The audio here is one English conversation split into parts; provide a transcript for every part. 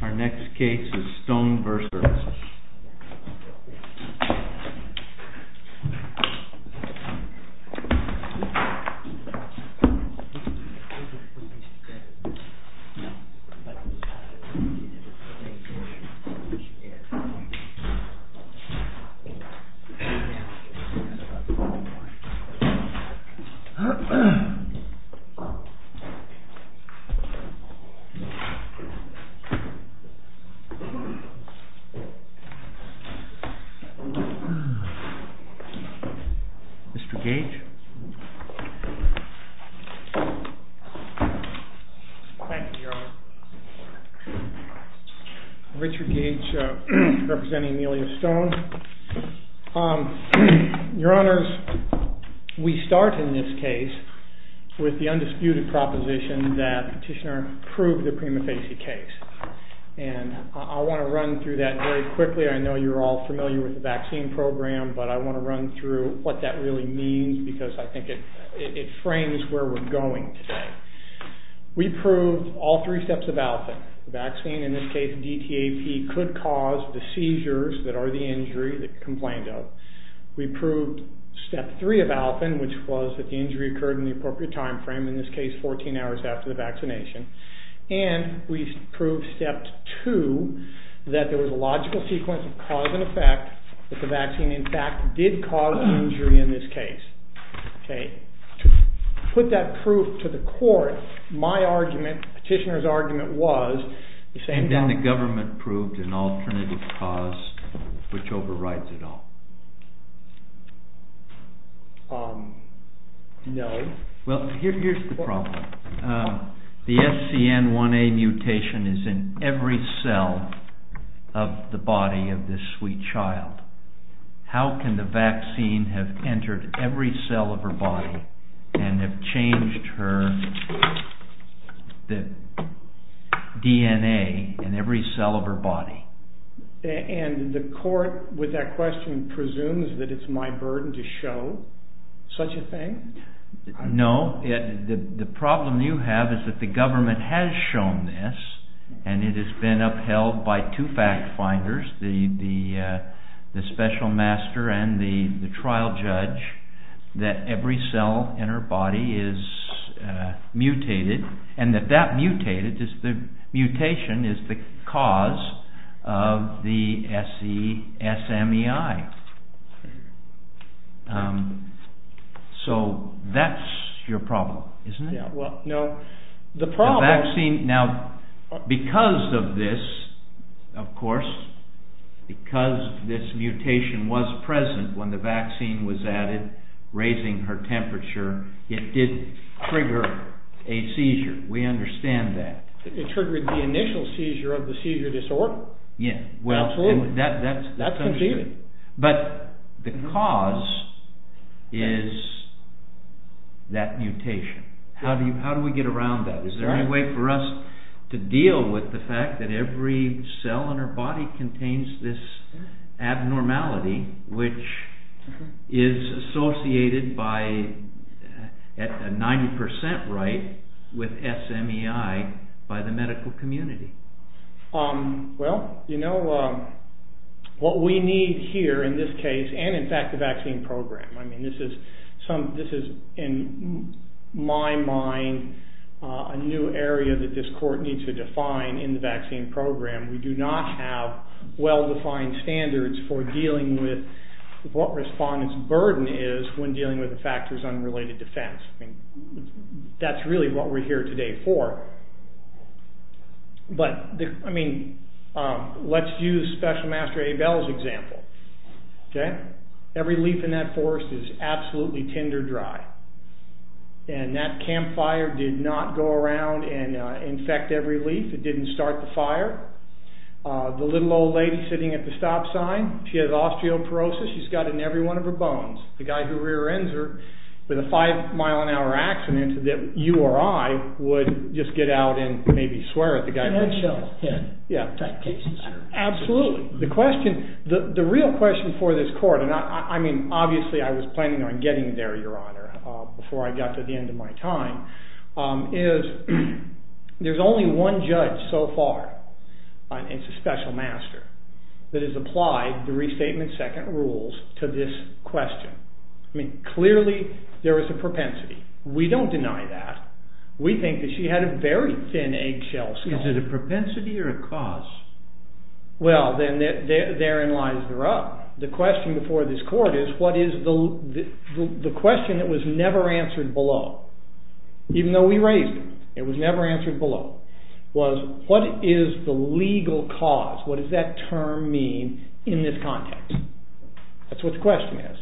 Our next case is STONE v. HHS Mr. Gage Thank you Your Honor Richard Gage representing Amelia Stone Your Honors, we start in this case with the undisputed proposition that STONE v. HHS is not a pneumophagy case and I want to run through that very quickly I know you're all familiar with the vaccine program but I want to run through what that really means because I think it frames where we're going today We proved all three steps of ALFEN The vaccine, in this case DTAP, could cause the seizures that are the injury that you complained of We proved step 3 of ALFEN, which was that the injury occurred in the appropriate time frame, in this case 14 hours after the vaccination And we proved step 2, that there was a logical sequence of cause and effect, that the vaccine in fact did cause the injury in this case To put that proof to the court, my argument Petitioner's argument was And then the government proved an alternative cause which overrides it all No Well, here's the problem The SCN1A mutation is in every cell of the body of this sweet child How can the vaccine have entered every cell of her body and have changed her DNA in every cell of her body And the court, with that question, presumes that it's my burden to show such a thing? No, the problem you have is that the government has shown this and it has been upheld by two fact finders the special master and the trial judge that every cell in her body is mutated and that that mutation is the cause of the SESMEI So that's your problem, isn't it? The vaccine, now because of this, of course because this mutation was present when the vaccine was added, raising her temperature it did trigger a seizure We understand that It triggered the initial seizure of the seizure disorder That's confusing But the cause is that mutation How do we get around that? Is there any way for us to deal with the fact that every cell in her body contains this abnormality which is associated by a 90% right with SMEI by the medical community? Well, you know what we need here in this case and in fact the vaccine program This is, in my mind a new area that this court needs to define in the vaccine program We do not have well defined standards for dealing with what respondent's burden is when dealing with the factors unrelated to defense That's really what we're here today for Let's use Special Master Abel's example Every leaf in that forest is absolutely tinder dry That campfire did not go around and infect every leaf It didn't start the fire The little old lady sitting at the stop sign She has osteoporosis She's got it in every one of her bones The guy who rear ends her with a 5 mile an hour accident You or I would just get out and maybe swear at the guy Absolutely The real question for this court and obviously I was planning on getting there before I got to the end of my time There's only one judge so far It's a special master that has applied the Restatement Second Rules to this question Clearly there is a propensity We don't deny that We think that she had a very thin eggshell skull Is it a propensity or a cause? Therein lies the rub The question before this court is the question that was never answered below even though we raised it What is the legal cause? What does that term mean in this context? That's what the question is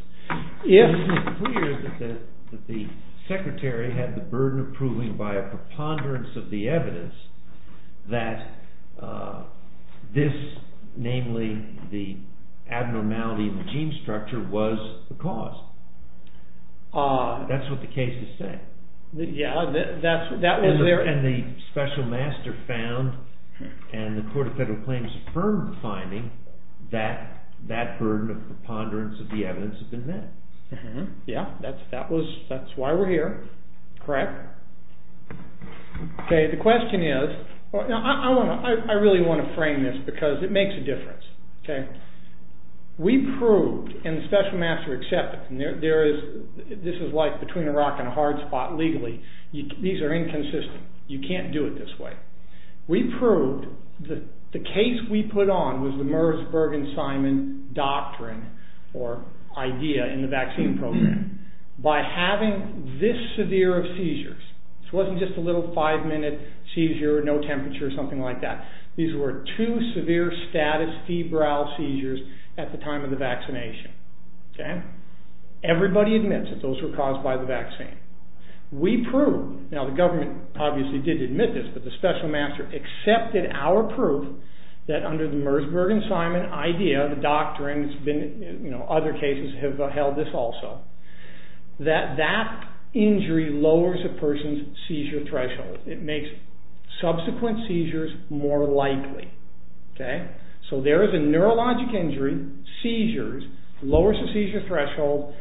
The Secretary had the burden of proving by a preponderance of the evidence that this namely the abnormality of the gene structure was the cause That's what the case is saying And the special master found and the Court of Federal Claims affirmed the finding that that burden of preponderance of the evidence had been met That's why we're here The question is I really want to frame this because it makes a difference We proved and the special master accepted This is like between a rock and a hard spot legally These are inconsistent You can't do it this way We proved that the case we put on was the Merzberg and Simon doctrine or idea in the vaccine program by having this severe of seizures It wasn't just a little 5 minute seizure or no temperature or something like that These were two severe status febrile seizures at the time of the vaccination Everybody admits that those were caused by the vaccine We proved, now the government obviously did admit this but the special master accepted our proof that under the Merzberg and Simon idea and other cases have held this also that that injury lowers a person's seizure threshold It makes subsequent seizures more likely So there is a neurologic injury seizures lowers the seizure threshold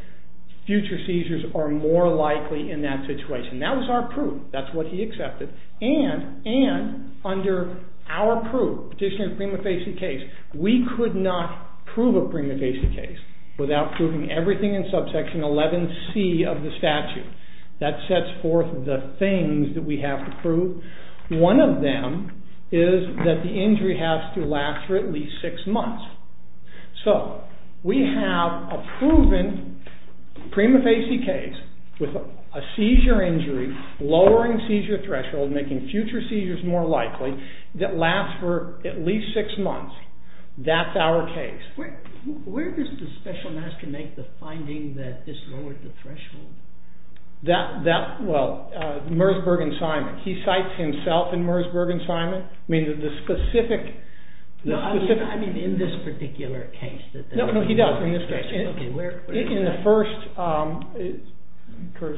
future seizures are more likely in that situation That was our proof That's what he accepted And under our proof We could not prove a prima facie case without proving everything in subsection 11c of the statute That sets forth the things we have to prove One of them is that the injury has to last for at least 6 months So we have a proven prima facie case with a seizure injury lowering seizure threshold making future seizures more likely that last for at least 6 months Where does the special master make the finding that this lowered the threshold? Merzberg and Simon He cites himself in Merzberg and Simon I mean in this particular case No, he does In the first I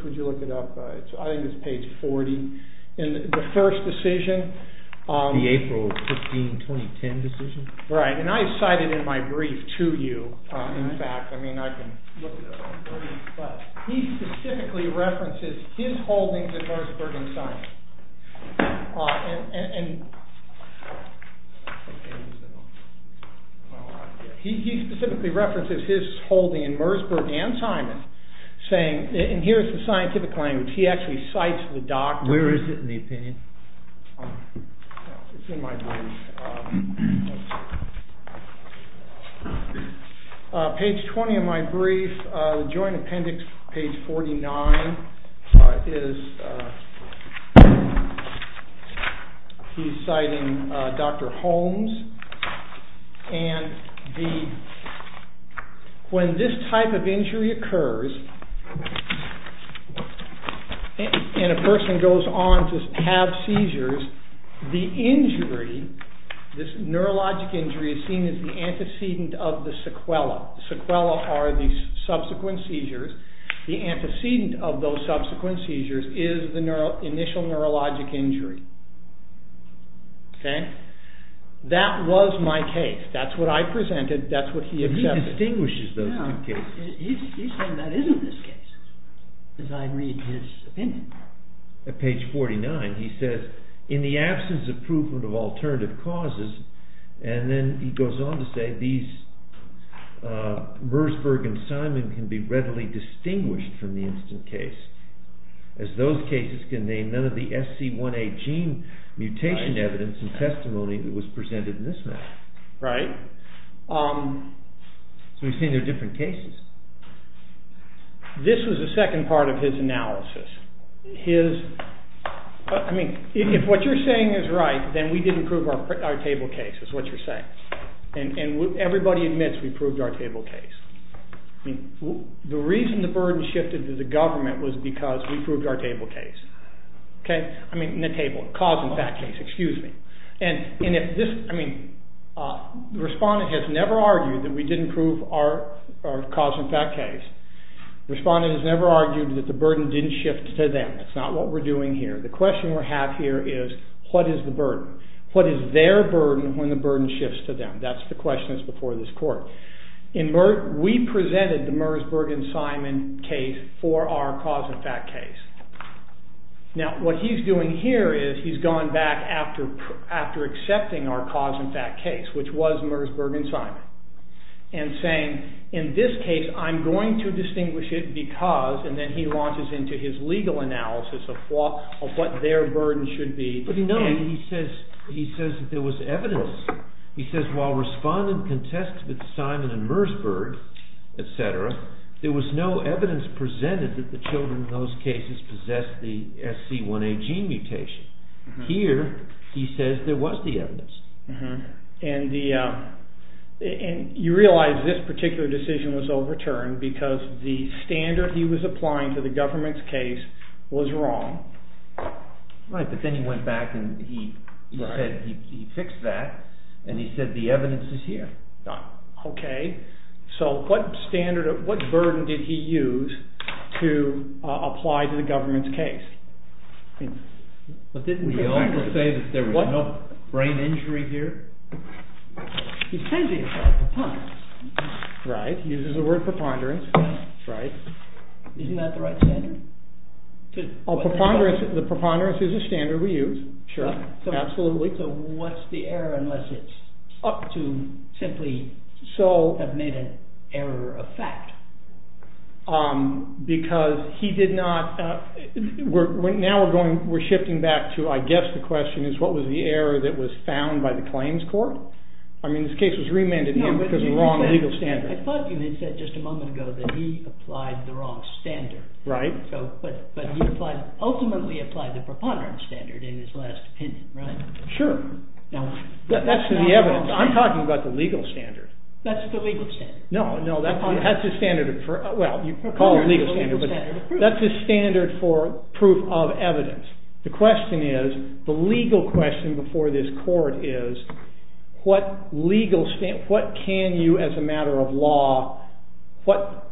think it's page 40 In the first decision The April 15, 2010 decision Right, and I cite it in my brief to you He specifically references his holdings in Merzberg and Simon He specifically references his holdings in Merzberg and Simon He specifically references Here's the scientific language He actually cites the doctor Where is it in the opinion? It's in my brief Page 20 of my brief Joint appendix page 49 He's citing Dr. Holmes He's citing Dr. Holmes When this type of injury occurs And a person goes on to have seizures And a person goes on to have seizures The injury, this neurologic injury is seen as the antecedent of the sequela Sequela are the subsequent seizures The antecedent of those subsequent seizures is the initial neurologic injury That was my case That's what I presented He distinguishes those two cases He's saying that isn't his case As I read his opinion At page 49 he says In the absence of proof of alternative causes And then he goes on to say Merzberg and Simon can be readily distinguished from the instant case As those cases can name none of the SC1A gene Mutation evidence and testimony was presented in this matter Right So he's saying they're different cases This was the second part of his analysis If what you're saying is right Then we didn't prove our table case And everybody admits we proved our table case The reason the burden shifted to the government Was because we proved our table case I mean in the table Cause and fact case Respondent has never argued That we didn't prove our cause and fact case Respondent has never argued that the burden didn't shift to them That's not what we're doing here The question we have here is what is the burden What is their burden when the burden shifts to them That's the question before this court We presented the Merzberg and Simon case For our cause and fact case Now what he's doing here is He's gone back after accepting our cause and fact case Which was Merzberg and Simon And saying in this case I'm going to distinguish it Because and then he launches into his legal analysis Of what their burden should be He says there was evidence He says while respondent contests with Simon and Merzberg There was no evidence presented That the children in those cases Possessed the SC1A gene mutation Here he says there was the evidence And you realize this particular decision was overturned Because the standard he was applying To the government's case was wrong Right but then he went back And he fixed that And he said the evidence is here So what burden did he use To apply to the government's case Didn't he also say That there was no brain injury here He says he applied preponderance Right he uses the word preponderance Isn't that the right standard The preponderance is the standard we use Sure absolutely So what's the error unless it's up to Simply have made an error of fact Because he did not Now we're shifting back to I guess the question is what was the error that was found By the claims court I mean this case was remanded him because of the wrong legal standard I thought you had said just a moment ago that he applied the wrong standard Right But he ultimately applied the preponderance standard in his last opinion Sure I'm talking about the legal standard That's the standard That's the standard for proof of evidence The question is The legal question before this court is What legal standard What can you as a matter of law What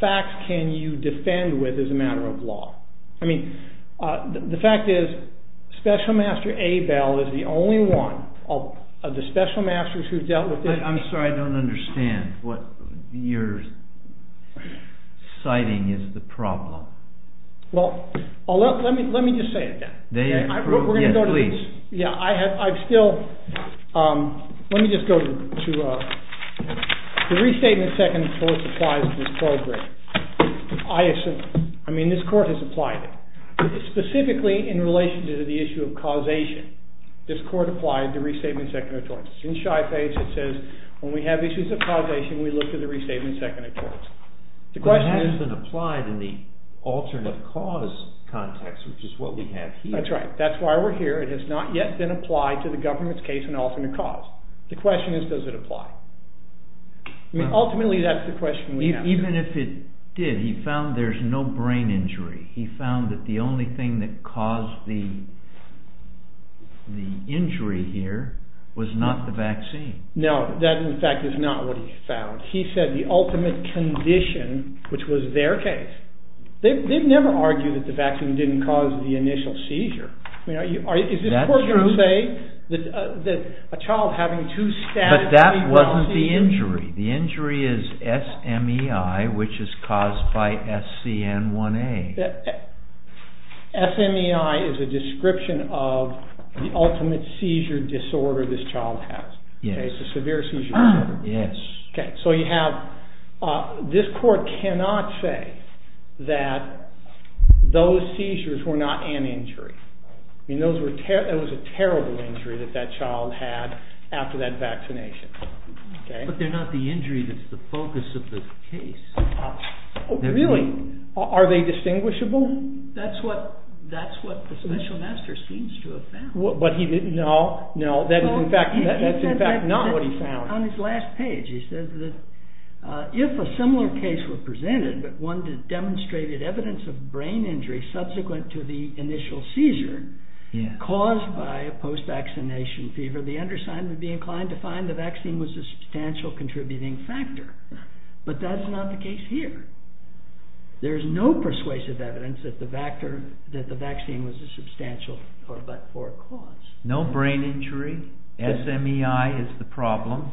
facts can you defend with as a matter of law I mean the fact is Special Master Abel is the only one Of the special masters who dealt with this I'm sorry I don't understand What you're citing is the problem Well let me just say it again We're going to go to Let me just go to The restatement of second torts applies to this program I mean this court has applied it Specifically in relation to the issue of causation This court applied the restatement of second torts It says when we have issues of causation We look to the restatement of second torts The question It has been applied in the alternate cause context Which is what we have here That's right that's why we're here It has not yet been applied to the government's case in alternate cause The question is does it apply Ultimately that's the question we have Even if it did he found there's no brain injury Was not the vaccine No that in fact is not what he found He said the ultimate condition which was their case They've never argued that the vaccine didn't cause The initial seizure Is this court going to say that a child having But that wasn't the injury The injury is SMEI which is caused by SCN1A SMEI is a description of The ultimate seizure disorder this child has It's a severe seizure disorder This court cannot say That those seizures Were not an injury It was a terrible injury that that child had After that vaccination But they're not the injury that's the focus of the case Really are they distinguishable That's what the special master Seems to have found No that's in fact not what he found On his last page he says If a similar case were presented But one that demonstrated evidence of brain injury Subsequent to the initial seizure Caused by a post vaccination fever The undersigned would be inclined to find the vaccine Was a substantial contributing factor But that's not the case here There's no persuasive evidence that the vaccine Was a substantial cause No brain injury SMEI is the problem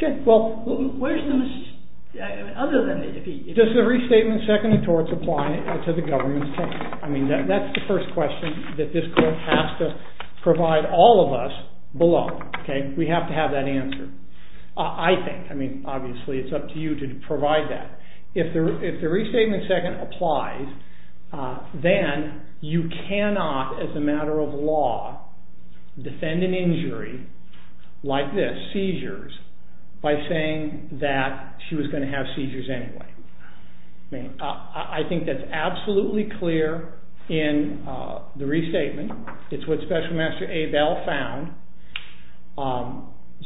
Does the restatement seconded towards Applying it to the government's case I mean that's the first question That this court has to provide all of us Below Obviously it's up to you to provide that If the restatement second applies Then you cannot As a matter of law Defend an injury like this By saying that she was going to have seizures anyway I think that's absolutely clear In the restatement It's what special master Abell found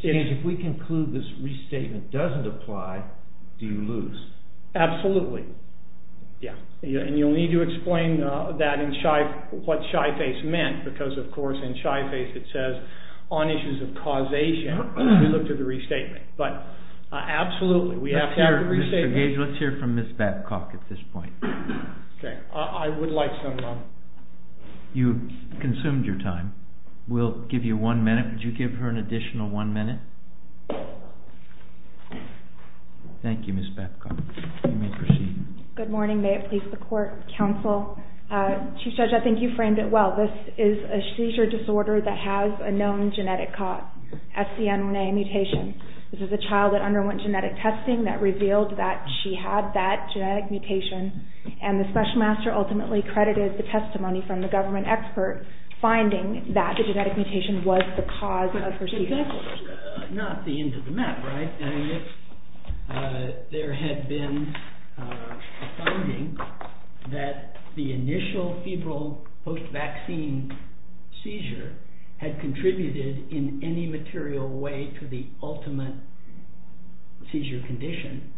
If we conclude this restatement doesn't apply Do you lose Absolutely You'll need to explain what shy face meant Because of course in shy face it says On issues of causation We look to the restatement Absolutely Let's hear from Ms. Batcock You've consumed your time We'll give you one minute Could you give her an additional one minute Thank you Good morning I think you framed it well This is a seizure disorder that has A known genetic cause This is a child that underwent genetic testing That revealed that she had that genetic mutation And the special master ultimately credited the testimony From the government expert Finding that the genetic mutation was the cause Not the end of the map There had been A finding that the initial Post vaccine seizure Had contributed in any material way To the ultimate seizure condition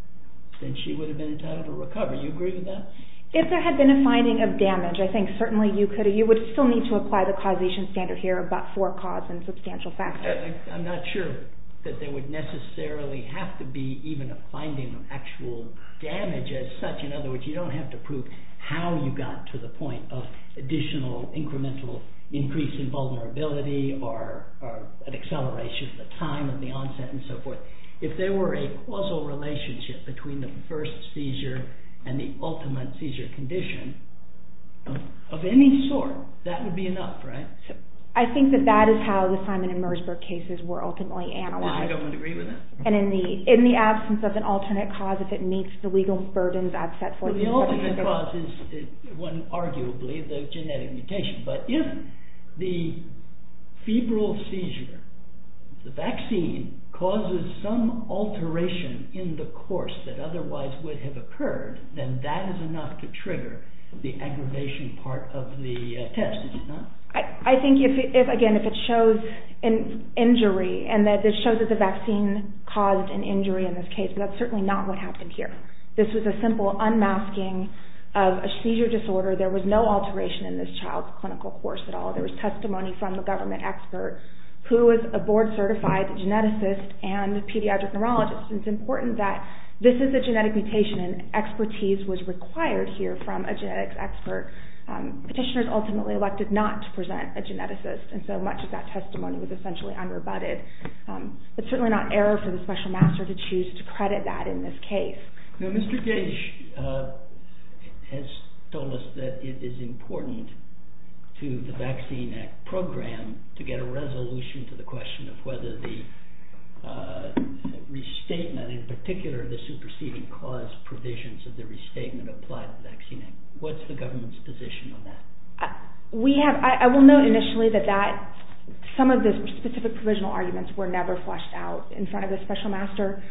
Then she would have been entitled to recover You agree with that If there had been a finding of damage You would still need to apply the causation standard I'm not sure That there would necessarily have to be A finding of actual damage You don't have to prove how you got to the point Of additional incremental increase in vulnerability Or an acceleration of the time If there were a causal relationship Between the first seizure And the ultimate seizure condition Of any sort, that would be enough I think that is how the Simon and Merzberg cases Were ultimately analyzed In the absence of an alternate cause If it meets the legal burdens The ultimate cause is arguably the genetic mutation But if the febrile seizure The vaccine causes some alteration In the course that otherwise would have occurred Then that is enough to trigger The aggravation part of the test I think if it shows Injury, and it shows that the vaccine Caused an injury in this case That is certainly not what happened here This was a simple unmasking of a seizure disorder There was no alteration in this child's clinical course There was testimony from the government expert Who was a board certified geneticist And a pediatric neurologist It is important that this is a genetic mutation And expertise was required here from a genetics expert Petitioners ultimately elected not to present a geneticist And so much of that testimony was essentially unrebutted It is certainly not error for the special master To choose to credit that in this case Mr. Gage has told us that it is important To the Vaccine Act program To get a resolution to the question Of whether the restatement In particular the superseding cause Provisions of the restatement apply to the Vaccine Act What is the government's position on that? I will note initially that some of the specific Provisional arguments were never flushed out In front of the special master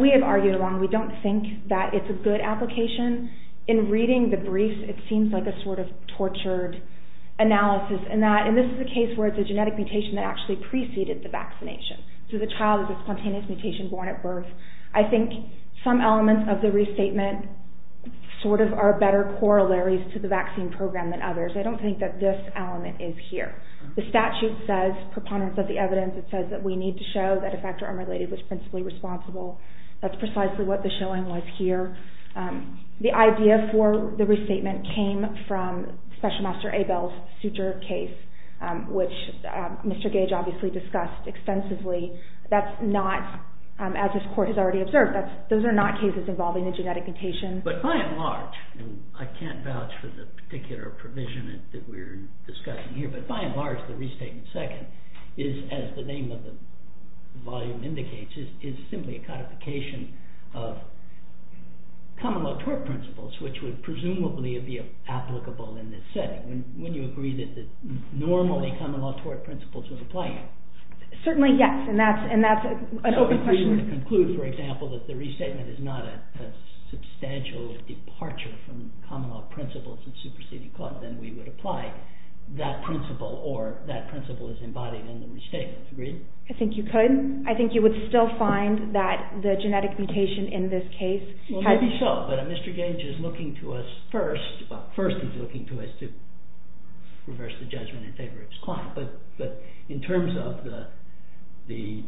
We have argued along that we don't think it is a good application In reading the brief it seems like a sort of tortured analysis In that, and this is a case where it is a genetic mutation That actually preceded the vaccination So the child is a spontaneous mutation born at birth I think some elements of the restatement Sort of are better corollaries to the vaccine program than others I don't think that this element is here The statute says, preponderance of the evidence It says that we need to show that a factor unrelated Was principally responsible That's precisely what the showing was here The idea for the restatement came from Special Master Abel's suture case Which Mr. Gage obviously discussed extensively That's not, as this court has already observed Those are not cases involving a genetic mutation But by and large, and I can't vouch for the particular Provision that we are discussing here But by and large the restatement second Is, as the name of the volume indicates Is simply a codification of Common law tort principles Which would presumably be applicable in this setting Wouldn't you agree that normally common law tort principles would apply here? Certainly yes, and that's an open question So if we were to conclude, for example, that the restatement Is not a substantial departure from Common law principles in superseding cause Then we would apply that principle Or that principle is embodied in the restatement, agreed? I think you could, I think you would still find that The genetic mutation in this case Maybe so, but Mr. Gage is looking to us first Well, first he's looking to us to reverse the judgment And favor his client, but in terms of The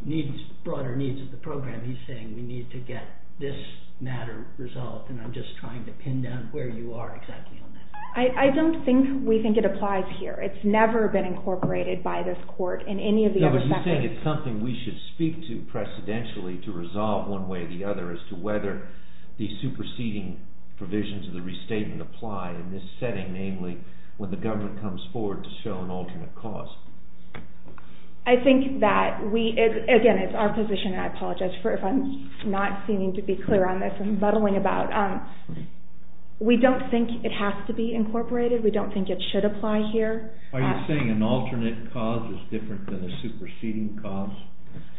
broader needs of the program He's saying we need to get this matter resolved And I'm just trying to pin down where you are exactly on that I don't think we think it applies here It's never been incorporated by this court No, but you think it's something we should speak to Precedentially to resolve one way or the other As to whether the superseding provisions of the restatement Apply in this setting, namely when the government Comes forward to show an alternate cause I think that we, again it's our position And I apologize if I'm not seeming to be clear on this And muddling about We don't think it has to be incorporated We don't think it should apply here Are you saying an alternate cause is different than a superseding cause?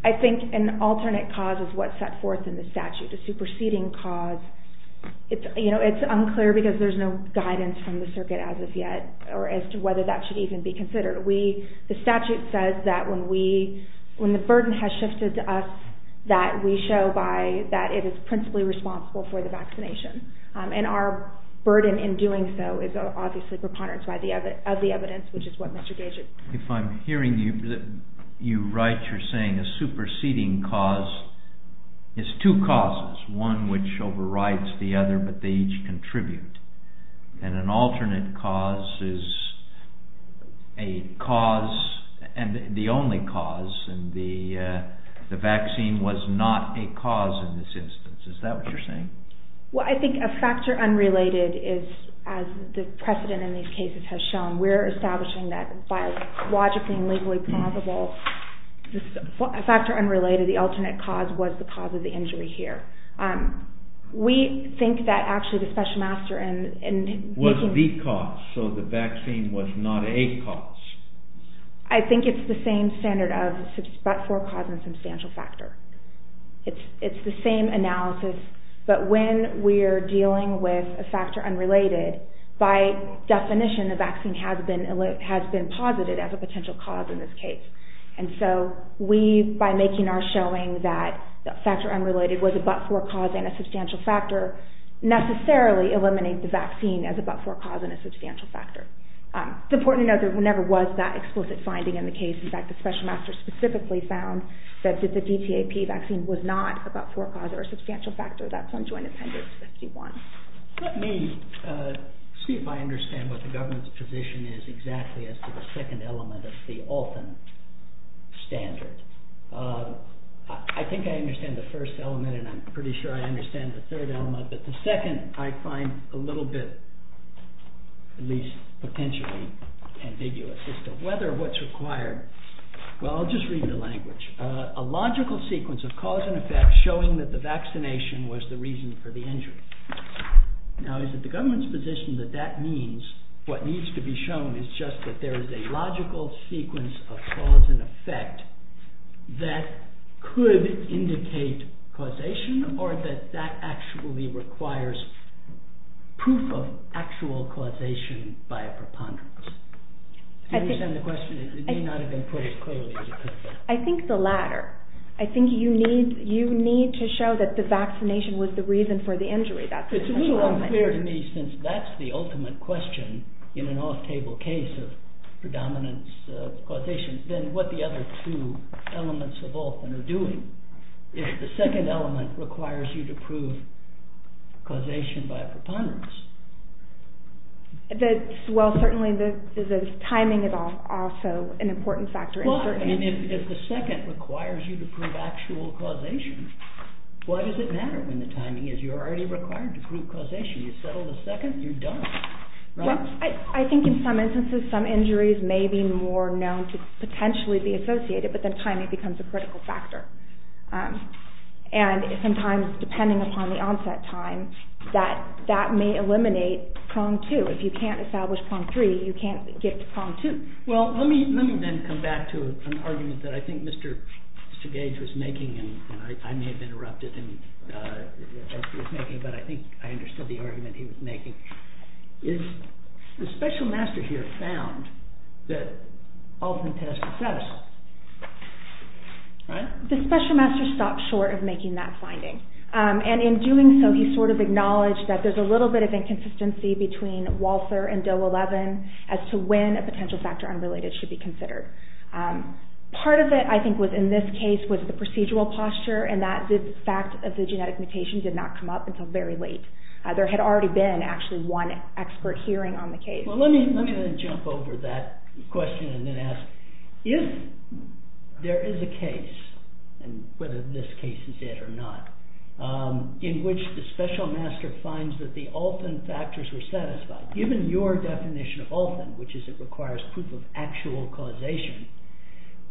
I think an alternate cause is what's set forth in the statute A superseding cause, it's unclear Because there's no guidance from the circuit as of yet Or as to whether that should even be considered The statute says that when the burden has shifted to us That we show that it is principally responsible For the vaccination And our burden in doing so is obviously preponderance Of the evidence, which is what Mr. Gage is saying If I'm hearing you right You're saying a superseding cause Is two causes, one which overrides the other But they each contribute And an alternate cause is a cause And the only cause And the vaccine was not a cause in this instance Is that what you're saying? Well I think a factor unrelated is As the precedent in these cases has shown We're establishing that by logically and legally plausible A factor unrelated, the alternate cause Was the cause of the injury here We think that actually the special master Was the cause, so the vaccine was not a cause I think it's the same standard Of but-for cause and substantial factor It's the same analysis But when we're dealing with a factor unrelated By definition the vaccine has been Posited as a potential cause in this case And so we, by making our showing That factor unrelated was a but-for cause And a substantial factor Necessarily eliminates the vaccine as a but-for cause And a substantial factor It's important to note that there never was That explicit finding in the case In fact the special master specifically found That the DTAP vaccine was not a but-for cause Or a substantial factor Let me see if I understand What the government's position is Exactly as to the second element of the Alton standard I think I understand the first element And I'm pretty sure I understand the third element But the second I find a little bit At least potentially ambiguous As to whether what's required Well I'll just read the language A logical sequence of cause and effect Showing that the vaccination was the reason for the injury Now is it the government's position that that means What needs to be shown is just that there is a logical Sequence of cause and effect That could indicate causation Or that that actually requires Proof of actual causation By a preponderance I think I think the latter I think you need to show that the vaccination was the reason For the injury It's a little unclear to me since that's the ultimate question In an off-table case of predominance Then what the other two elements of Alton are doing Is the second element requires you to prove Causation by a preponderance Well certainly the timing Is also an important factor If the second requires you to prove actual causation Why does it matter when the timing is You're already required to prove causation You settle the second, you're done I think in some instances some injuries may be more known To potentially be associated but then timing becomes a critical factor And sometimes depending upon the onset time That may eliminate prong 2 If you can't establish prong 3 you can't get to prong 2 Well let me then come back to an argument That I think Mr. Sagage was making And I may have interrupted him But I think I understood the argument he was making Is the special master here found That Alton test was satisfied The special master stopped short Of making that finding And in doing so he sort of acknowledged That there's a little bit of inconsistency between Walser and Doe 11 as to when a potential factor unrelated Should be considered Part of it I think in this case was the procedural posture And that the fact of the genetic mutation Did not come up until very late There had already been one expert hearing on the case Well let me then jump over that question And then ask if there is a case And whether this case is it or not In which the special master finds That the Alton factors were satisfied Given your definition of Alton Which is it requires proof of actual causation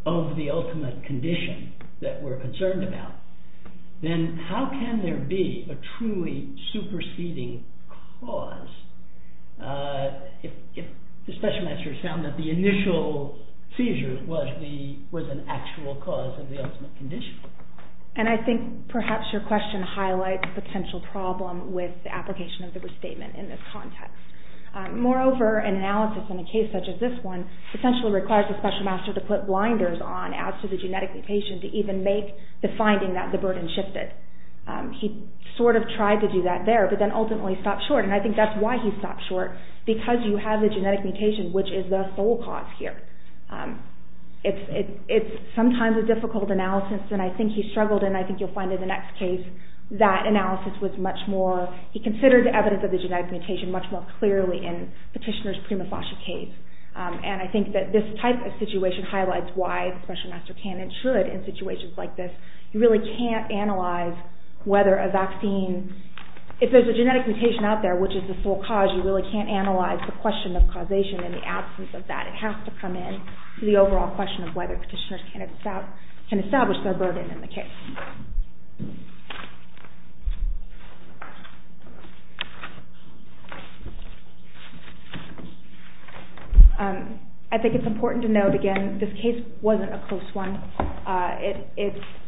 Of the ultimate condition that we're concerned about Then how can there be a truly superseding cause If the special master found that the initial seizure Was an actual cause of the ultimate condition And I think perhaps your question highlights The potential problem with the application of the restatement In this context Moreover an analysis in a case such as this one Essentially requires the special master to put blinders on As to the genetic mutation to even make the finding That the burden shifted He sort of tried to do that there But then ultimately stopped short And I think that's why he stopped short Because you have the genetic mutation Which is the sole cause here It's sometimes a difficult analysis And I think he struggled And I think you'll find in the next case That analysis was much more He considered the evidence of the genetic mutation Much more clearly in Petitioner's prima facie case And I think that this type of situation highlights Why the special master can and should in situations like this You really can't analyze whether a vaccine If there's a genetic mutation out there Which is the sole cause You really can't analyze the question of causation In the absence of that It has to come in to the overall question Of whether Petitioners can establish their burden in the case I think it's important to note again This case wasn't a close one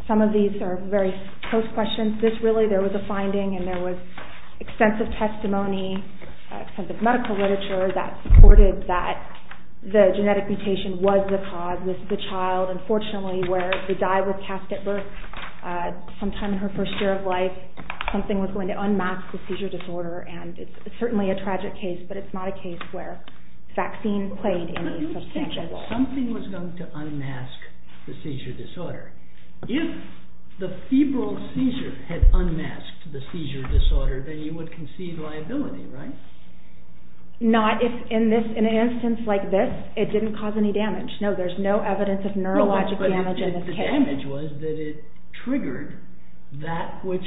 Some of these are very close questions This really, there was a finding And there was extensive testimony From the medical literature That supported that the genetic mutation was the cause This is a child, unfortunately Where the dye was cast at birth Sometime in her first year of life Something was going to unmask the seizure disorder And it's certainly a tragic case But it's not a case where vaccines played any substantial role Something was going to unmask the seizure disorder If the febrile seizure had unmasked the seizure disorder Then you would concede liability, right? Not if in an instance like this It didn't cause any damage No, there's no evidence of neurologic damage in this case No, but if the damage was that it triggered That which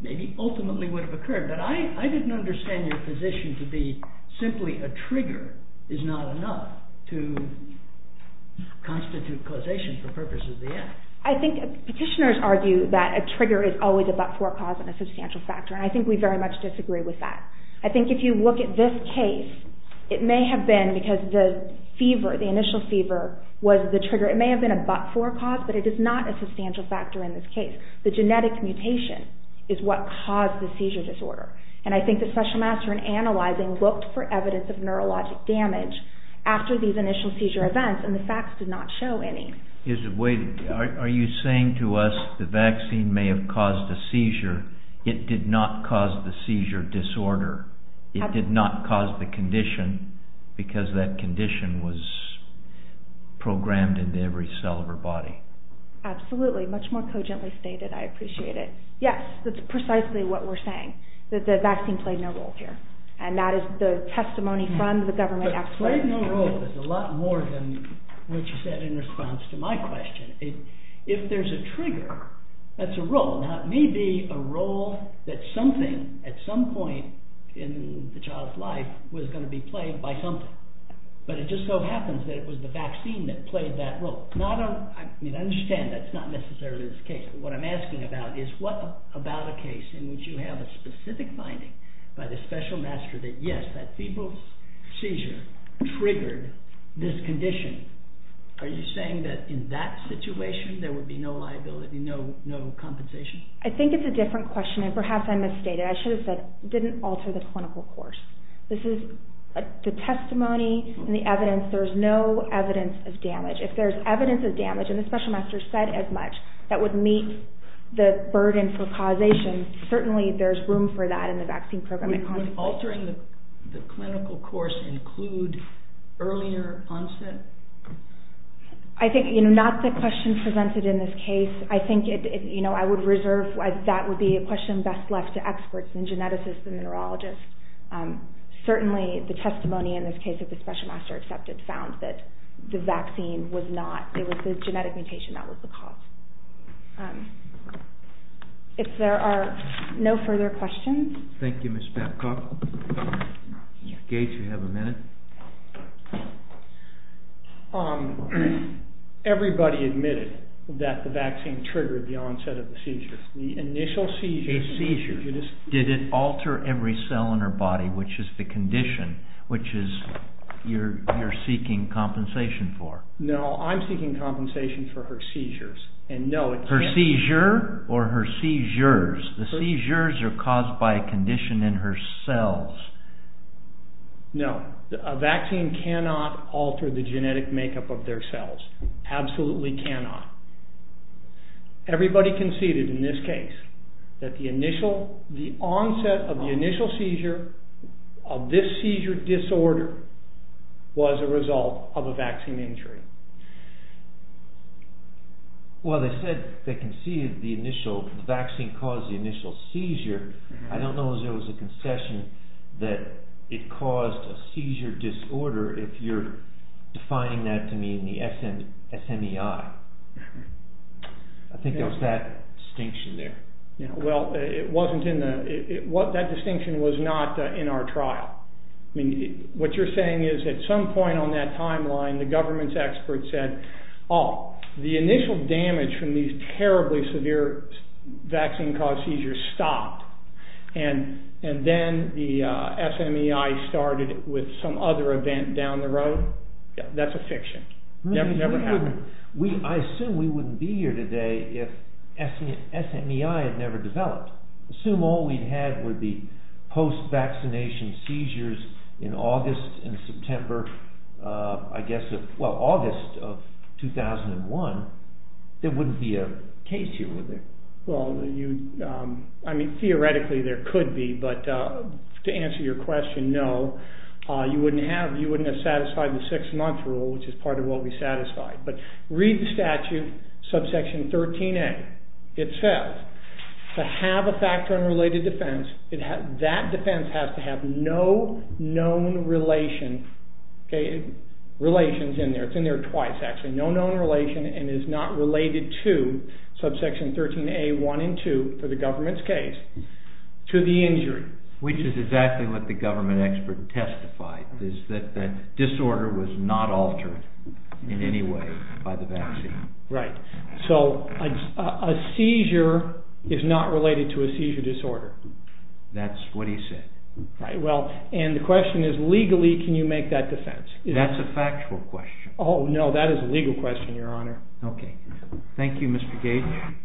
maybe ultimately would have occurred But I didn't understand your position to be Simply a trigger is not enough To constitute causation for purposes of the act I think petitioners argue that a trigger Is always a but-for cause and a substantial factor And I think we very much disagree with that I think if you look at this case It may have been because the fever, the initial fever Was the trigger, it may have been a but-for cause But it is not a substantial factor in this case The genetic mutation is what caused the seizure disorder And I think that Special Master in Analyzing Looked for evidence of neurologic damage After these initial seizure events and the facts did not show any Are you saying to us the vaccine may have caused a seizure It did not cause the seizure disorder It did not cause the condition Because that condition was programmed Into every cell of our body Absolutely, much more cogently stated, I appreciate it Yes, that's precisely what we're saying That the vaccine played no role here And that is the testimony from the government Played no role is a lot more than what you said in response to my question If there's a trigger, that's a role Now it may be a role that something At some point in the child's life Was going to be played by something But it just so happens that it was the vaccine that played that role I understand that's not necessarily the case But what I'm asking about is what about a case In which you have a specific finding by the Special Master That yes, that febrile seizure triggered this condition Are you saying that in that situation There would be no liability, no compensation I think it's a different question And perhaps I misstated, I should have said It didn't alter the clinical course This is the testimony and the evidence There's no evidence of damage If there's evidence of damage, and the Special Master said as much That would meet the burden for causation Certainly there's room for that in the vaccine program Would altering the clinical course include Earlier onset? I think not the question presented in this case I think I would reserve, that would be a question That would be best left to experts and geneticists and neurologists Certainly the testimony in this case that the Special Master Accepted found that the vaccine was not It was the genetic mutation that was the cause If there are no further questions Thank you Ms. Babcock Mr. Gates you have a minute Everybody admitted That the vaccine triggered the onset of the seizure Did it alter every cell in her body Which is the condition Which you're seeking compensation for No, I'm seeking compensation for her seizures Her seizure or her seizures The seizures are caused by a condition in her cells No A vaccine cannot alter the genetic makeup of their cells Absolutely cannot Everybody conceded in this case That the onset of the initial seizure Of this seizure disorder Was a result of a vaccine injury Well they said They conceded the initial The vaccine caused the initial seizure I don't know if there was a concession That it caused a seizure disorder If you're defining that to me In the SMEI I think there was that distinction there That distinction was not in our trial What you're saying is At some point on that timeline The government's expert said The initial damage from these terribly severe Vaccine caused seizures stopped And then the SMEI started With some other event down the road That's a fiction I assume we wouldn't be here today If SMEI had never developed Assume all we had were the post-vaccination seizures In August and September I guess, well August of 2001 There wouldn't be a case here would there Theoretically there could be But to answer your question, no You wouldn't have satisfied the six month rule Which is part of what we satisfied Read the statute, subsection 13a It says to have a factor unrelated defense That defense has to have no known relation Relations in there It's in there twice actually No known relation and is not related to Subsection 13a 1 and 2 for the government's case To the injury Which is exactly what the government expert testified That disorder was not altered in any way By the vaccine So a seizure is not related to a seizure disorder That's what he said And the question is legally can you make that defense That's a factual question No that is a legal question your honor Thank you Mr. Gage